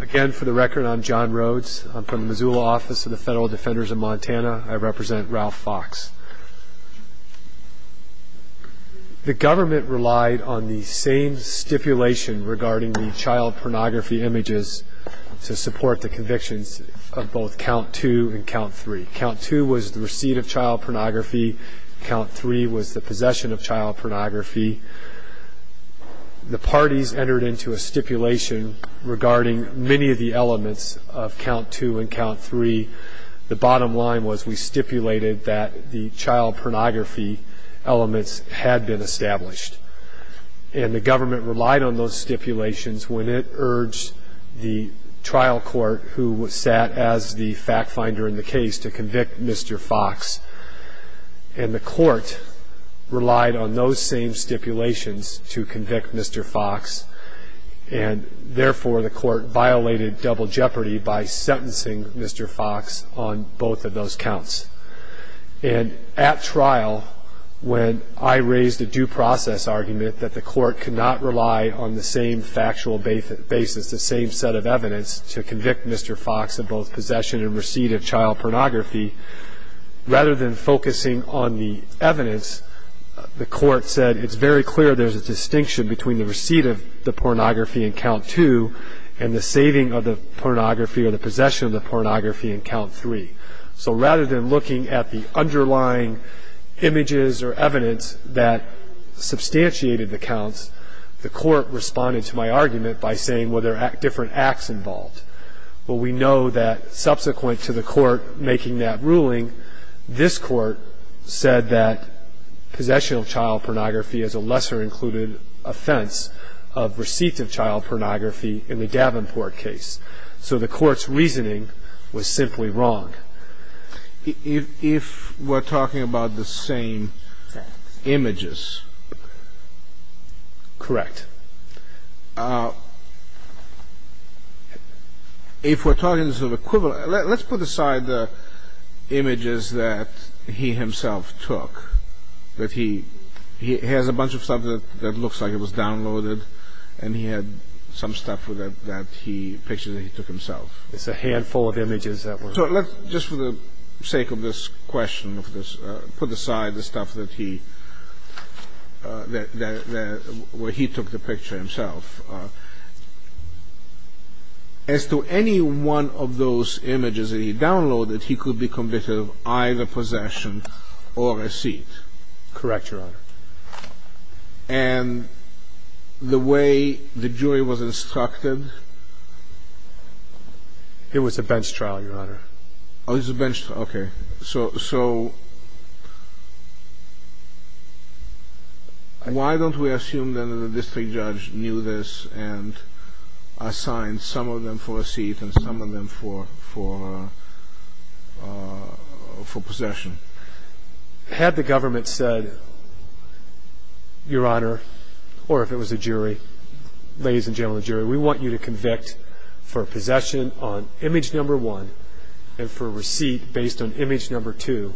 Again, for the record, I'm John Rhodes. I'm from the Missoula Office of the Federal Defenders of Montana. I represent Ralph Fox. The government relied on the same stipulation regarding the child pornography images to support the convictions of both Count 2 and Count 3. Count 2 was the receipt of child pornography. Count 3 was the possession of child pornography. The parties entered into a stipulation regarding many of the elements of Count 2 and Count 3. The bottom line was we stipulated that the child pornography elements had been established. And the government relied on those stipulations when it urged the trial court who sat as the fact finder in the case to convict Mr. Fox. And the court relied on those same stipulations to convict Mr. Fox. And, therefore, the court violated double jeopardy by sentencing Mr. Fox on both of those counts. And at trial, when I raised a due process argument that the court could not rely on the same factual basis, the same set of evidence, to convict Mr. Fox of both possession and receipt of child pornography, rather than focusing on the evidence, the court said it's very clear there's a distinction between the receipt of the pornography in Count 2 and the saving of the pornography or the possession of the pornography in Count 3. So rather than looking at the underlying images or evidence that substantiated the counts, the court responded to my argument by saying, well, there are different acts involved. Well, we know that subsequent to the court making that ruling, this court said that possession of child pornography is a lesser-included offense of receipt of child pornography in the Davenport case. So the court's reasoning was simply wrong. If we're talking about the same images. Correct. If we're talking sort of equivalent, let's put aside the images that he himself took, that he has a bunch of stuff that looks like it was downloaded, and he had some stuff that he pictured that he took himself. It's a handful of images that were... So let's, just for the sake of this question, put aside the stuff that he took the picture himself. As to any one of those images that he downloaded, he could be convicted of either possession or receipt. Correct, Your Honor. And the way the jury was instructed... It was a bench trial, Your Honor. Oh, it was a bench trial. Okay. So why don't we assume that the district judge knew this and assigned some of them for receipt and some of them for possession? Had the government said, Your Honor, or if it was a jury, ladies and gentlemen of the jury, we want you to convict for possession on image number one and for receipt based on image number two,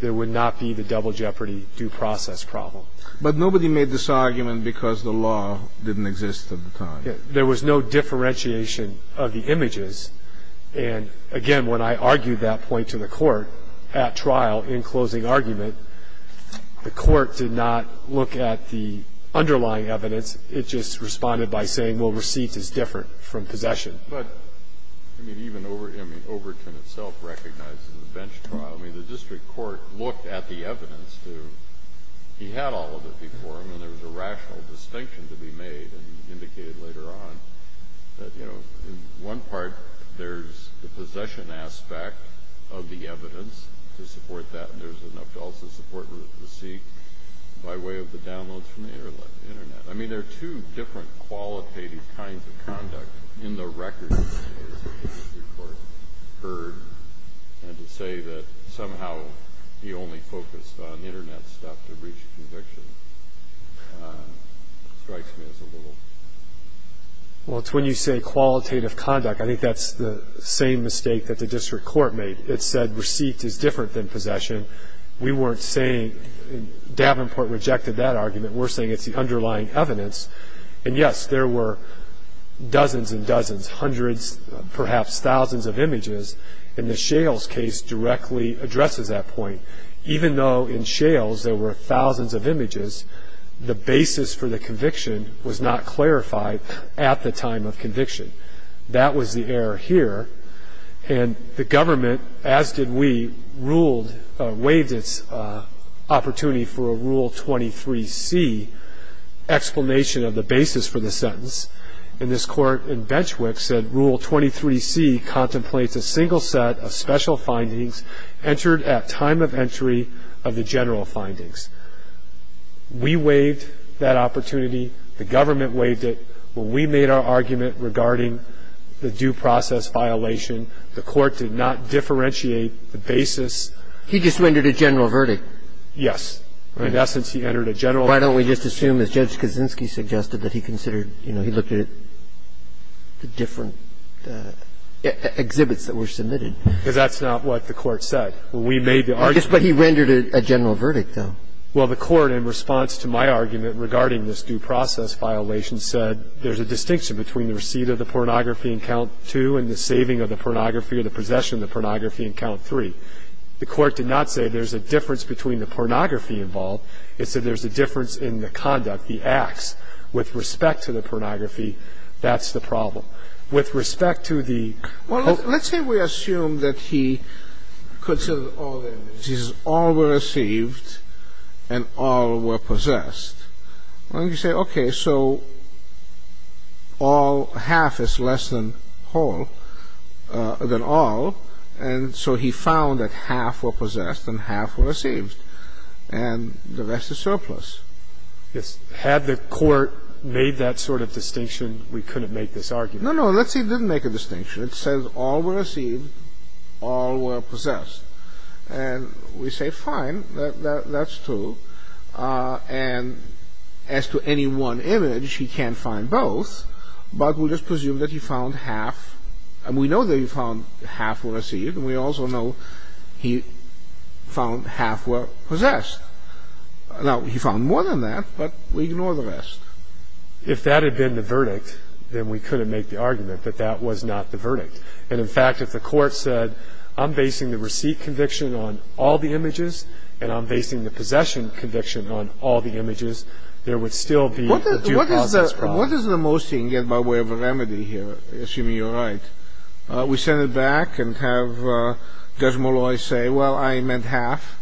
there would not be the double jeopardy due process problem. But nobody made this argument because the law didn't exist at the time. There was no differentiation of the images. And again, when I argued that point to the trial in closing argument, the court did not look at the underlying evidence. It just responded by saying, well, receipt is different from possession. But, I mean, even Overton itself recognizes the bench trial. I mean, the district court looked at the evidence. He had all of it before him, and there was a rational distinction to be made and indicated later on that, you know, in one part, there's the possession aspect of the evidence to support that, and there's enough to also support receipt by way of the downloads from the Internet. I mean, there are two different qualitative kinds of conduct in the records, I suppose, that the district court heard. And to say that somehow he only focused on Internet stuff to reach conviction strikes me as a little... Well, it's when you say qualitative conduct, I think that's the same mistake that the district court made. It said receipt is different than possession. We weren't saying... Davenport rejected that argument. We're saying it's the underlying evidence. And yes, there were dozens and dozens, hundreds, perhaps thousands of images. And the Shales case directly addresses that point. Even though in Shales there were thousands of images, the basis for the conviction was not clarified at the time of conviction. That was the error here. And the government, as did we, ruled... waived its opportunity for a Rule 23c explanation of the basis for the sentence. And this court in Benchwick said Rule 23c contemplates a single set of special findings entered at time of entry of the general findings. We waived that opportunity. The government waived it. Well, we made our argument regarding the due process violation. The court did not differentiate the basis. He just rendered a general verdict. Yes. In essence, he entered a general... Why don't we just assume, as Judge Kaczynski suggested, that he considered... you know, he looked at the different exhibits that were submitted. He looked at the different exhibits that were submitted. and the possession of the pornography. Because that's not what the Court said. We made the argument... Yes, but he rendered a general verdict, though. Well, the Court in response to my argument regarding this due process violation said there's a distinction between the receipt of the pornography in Count 2 and the saving of the pornography or the possession of the pornography in Count 3. Well, let's assume that he considered all the evidence. He says all were received and all were possessed. Why don't you say, okay, so all, half is less than whole, than all. And so he found that half were possessed and half were received. And the rest is surplus. Yes. Had the Court made that sort of distinction, we couldn't make this argument. No, no, let's say it didn't make a distinction. It says all were received, all were possessed. And we say, fine, that's true. And as to any one image, he can't find both. But we'll just presume that he found half. And we know that he found half were received. And we also know he found half were possessed. Now, he found more than that, but we ignore the rest. If that had been the verdict, then we couldn't make the argument that that was not the verdict. And, in fact, if the Court said, I'm basing the receipt conviction on all the images, and I'm basing the possession conviction on all the images, there would still be a due process problem. What is the most he can get by way of a remedy here, assuming you're right? We send it back and have Judge Molloy say, well, I meant half.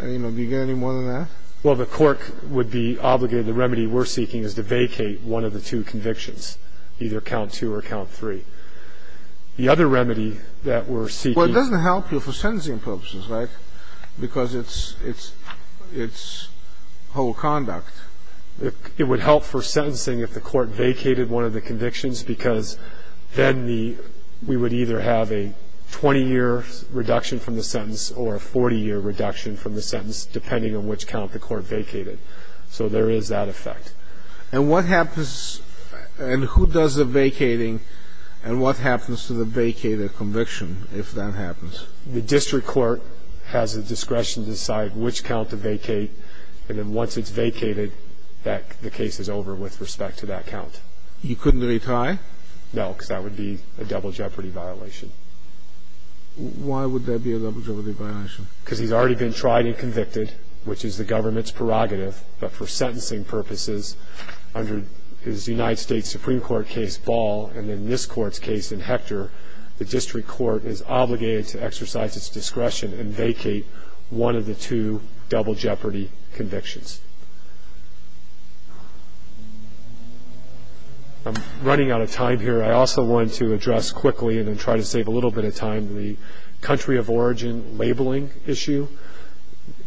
Do you get any more than that? Well, the Court would be obligated. The remedy we're seeking is to vacate one of the two convictions, either count two or count three. The other remedy that we're seeking — Well, it doesn't help you for sentencing purposes, right, because it's whole conduct. It would help for sentencing if the Court vacated one of the convictions, because then we would either have a 20-year reduction from the sentence or a 40-year reduction from the sentence, depending on which count the Court vacated. So there is that effect. And what happens — and who does the vacating, and what happens to the vacated conviction if that happens? The district court has the discretion to decide which count to vacate, and then once it's vacated, the case is over with respect to that count. You couldn't retire? No, because that would be a double jeopardy violation. Why would that be a double jeopardy violation? Because he's already been tried and convicted, which is the government's prerogative. But for sentencing purposes, under his United States Supreme Court case, Ball, and then this Court's case in Hector, the district court is obligated to exercise its discretion and vacate one of the two double jeopardy convictions. I'm running out of time here. I also want to address quickly, and then try to save a little bit of time, the country of origin labeling issue,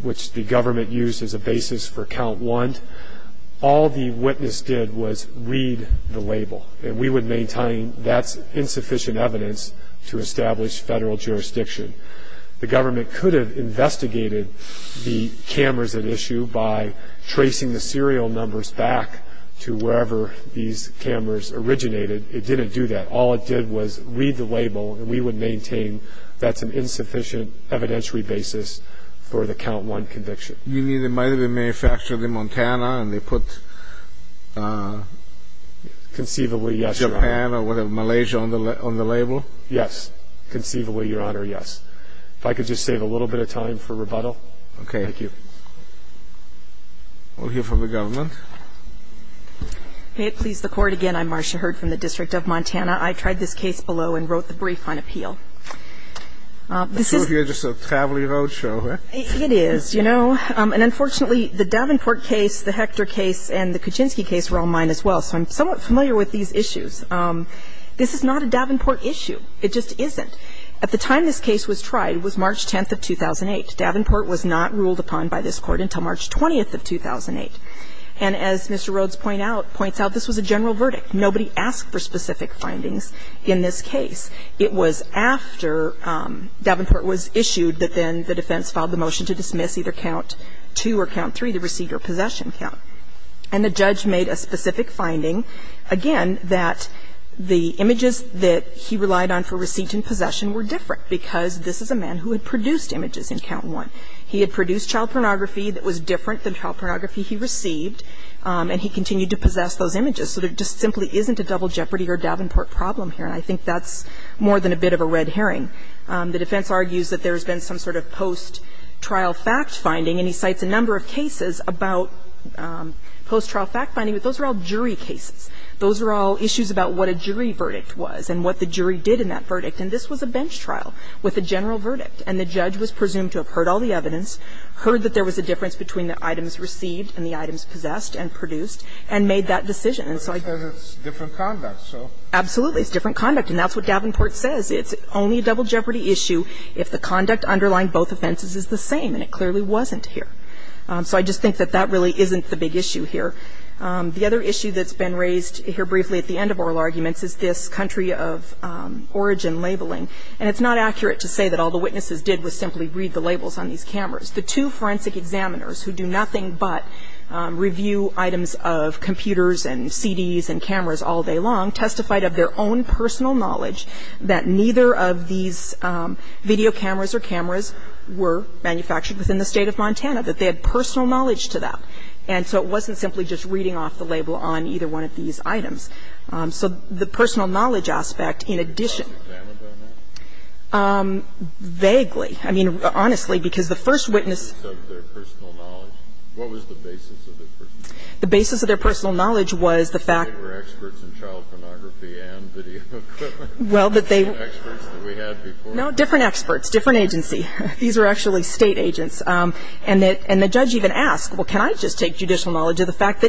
which the government used as a basis for count one. All the witness did was read the label, and we would maintain that's insufficient evidence to establish federal jurisdiction. The government could have investigated the cameras at issue by tracing the serial numbers back to wherever these cameras originated. It didn't do that. All it did was read the label, and we would maintain that's an insufficient evidentiary basis for the count one conviction. You mean it might have been manufactured in Montana, and they put Japan or whatever, Yes. Conceivably, Your Honor, yes. If I could just save a little bit of time for rebuttal. Thank you. We'll hear from the government. May it please the Court. I'm Marcia Hurd from the District of Montana. I tried this case below and wrote the brief on appeal. I assume this is just a travelly roadshow. It is. And unfortunately, the Davenport case, the Hector case, and the Kuczynski case were all mine as well. So I'm somewhat familiar with these issues. This is not a Davenport issue. It just isn't. At the time this case was tried, it was March 10th of 2008. Davenport was not ruled upon by this Court until March 20th of 2008. And as Mr. Rhodes points out, this was a general verdict. Nobody asked for specific findings in this case. It was after Davenport was issued that then the defense filed the motion to dismiss either count two or count three, the receipt or possession count. And the judge made a specific finding, again, that the images that he relied on for receipt and possession were different because this is a man who had produced images in count one. He had produced child pornography that was different than child pornography he received. And he continued to possess those images. So there just simply isn't a double jeopardy or Davenport problem here. And I think that's more than a bit of a red herring. The defense argues that there's been some sort of post-trial fact-finding, and he cites a number of cases about post-trial fact-finding. But those are all jury cases. Those are all issues about what a jury verdict was and what the jury did in that verdict. And this was a bench trial with a general verdict. And the judge was presumed to have heard all the evidence, heard that there was a difference between the items received and the items possessed and produced, and made that decision. And so I just think that that really isn't the big issue here. The other issue that's been raised here briefly at the end of oral arguments is this country of origin labeling. And it's not accurate to say that all the witnesses did was simply read the labels on these cameras. The two forensic examiners who do nothing but review items of computers and CDs and cameras all day long testified of their own personal knowledge that neither of these video cameras or cameras were manufactured within the State of Montana, that they had personal knowledge to that. And so it wasn't simply just reading off the label on either one of these items. So the personal knowledge aspect, in addition. Vaguely. I mean, honestly, because the first witness. What was the basis of their personal knowledge? The basis of their personal knowledge was the fact. They were experts in child pornography and video equipment. Well, that they. Experts that we had before. No, different experts, different agency. These were actually State agents. And the judge even asked, well, can I just take judicial knowledge of the fact that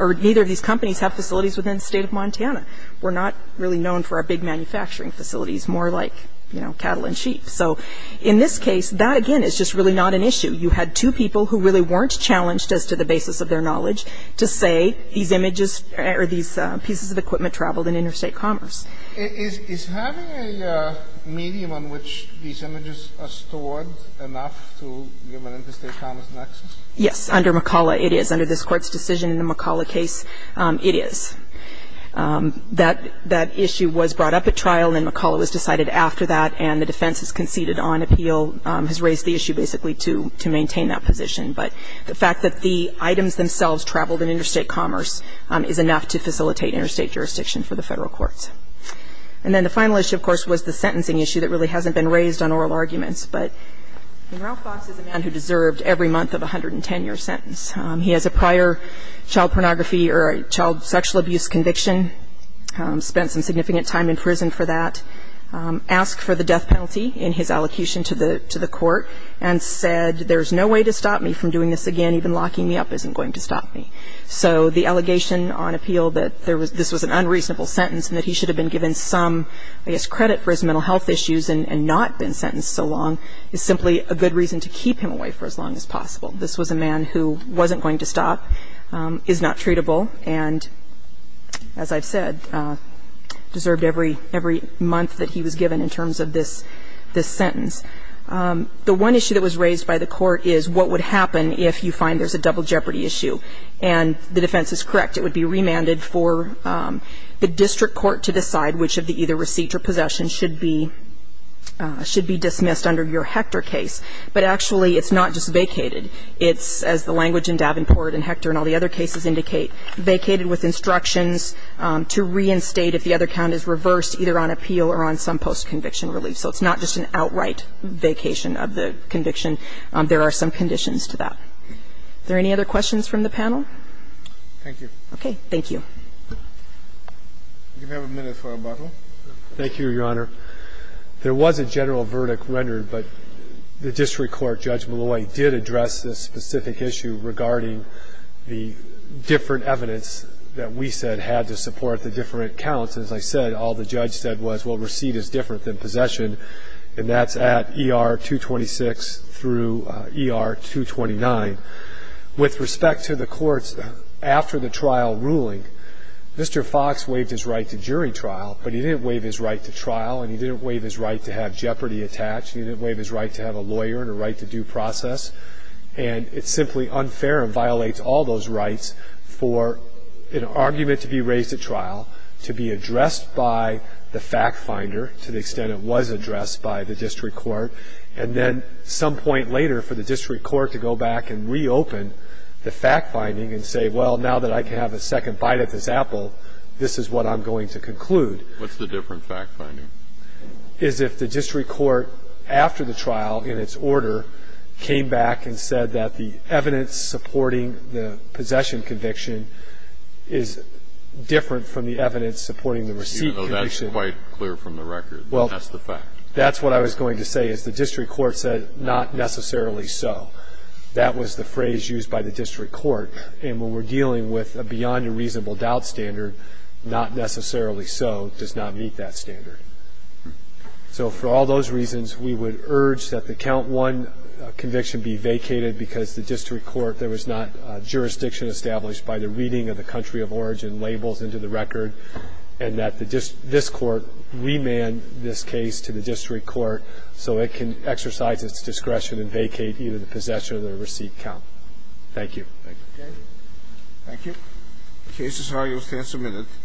or neither of these companies have facilities within the State of Montana. We're not really known for our big manufacturing facilities, more like, you know, cattle and sheep. So in this case, that, again, is just really not an issue. You had two people who really weren't challenged as to the basis of their knowledge to say these images or these pieces of equipment traveled in interstate commerce. Is having a medium on which these images are stored enough to give an interstate commerce nexus? Yes. Under McCullough, it is. Under this Court's decision in the McCullough case, it is. That issue was brought up at trial, and then McCullough was decided after that, and the defense has conceded on appeal, has raised the issue basically to maintain that position. But the fact that the items themselves traveled in interstate commerce is enough to facilitate interstate jurisdiction for the Federal courts. And then the final issue, of course, was the sentencing issue that really hasn't been raised on oral arguments. But Ralph Fox is a man who deserved every month of a 110-year sentence. He has a prior child pornography or child sexual abuse conviction, spent some significant time in prison for that, asked for the death penalty in his allocution to the court, and said there's no way to stop me from doing this again, even locking me up isn't going to stop me. So the allegation on appeal that this was an unreasonable sentence and that he should have been given some, I guess, credit for his mental health issues and not been sentenced so long is simply a good reason to keep him away for as long as possible. This was a man who wasn't going to stop, is not treatable, and, as I've said, deserved every month that he was given in terms of this sentence. The one issue that was raised by the Court is what would happen if you find there's a double jeopardy issue. And the defense is correct. It would be remanded for the district court to decide which of the either receipt or possession should be dismissed under your Hector case. But actually, it's not just vacated. It's, as the language in Davenport and Hector and all the other cases indicate, vacated with instructions to reinstate if the other count is reversed either on appeal or on some post-conviction relief. So it's not just an outright vacation of the conviction. There are some conditions to that. Are there any other questions from the panel? Thank you. Okay. Thank you. Do you have a minute for rebuttal? Thank you, Your Honor. There was a general verdict rendered, but the district court, Judge Malloy, did address this specific issue regarding the different evidence that we said had to support the different counts. As I said, all the judge said was, well, receipt is different than possession, and that's at ER-226 through ER-229. With respect to the courts after the trial ruling, Mr. Fox waived his right to jury at trial, and he didn't waive his right to have jeopardy attached. He didn't waive his right to have a lawyer and a right to due process. And it's simply unfair and violates all those rights for an argument to be raised at trial to be addressed by the fact finder to the extent it was addressed by the district court, and then some point later for the district court to go back and reopen the fact finding and say, well, now that I can have a second bite at this apple, this is what I'm going to conclude. What's the different fact finding? Is if the district court after the trial in its order came back and said that the evidence supporting the possession conviction is different from the evidence supporting the receipt conviction. Even though that's quite clear from the record that that's the fact. Well, that's what I was going to say is the district court said not necessarily so. That was the phrase used by the district court. And when we're dealing with a beyond a reasonable doubt standard, not necessarily so does not meet that standard. So for all those reasons, we would urge that the count one conviction be vacated because the district court, there was not jurisdiction established by the reading of the country of origin labels into the record, and that this court remand this case to the district court so it can exercise its discretion and vacate either the possession or the receipt count. Thank you. Thank you. Thank you. The case is argued with counsel minutes.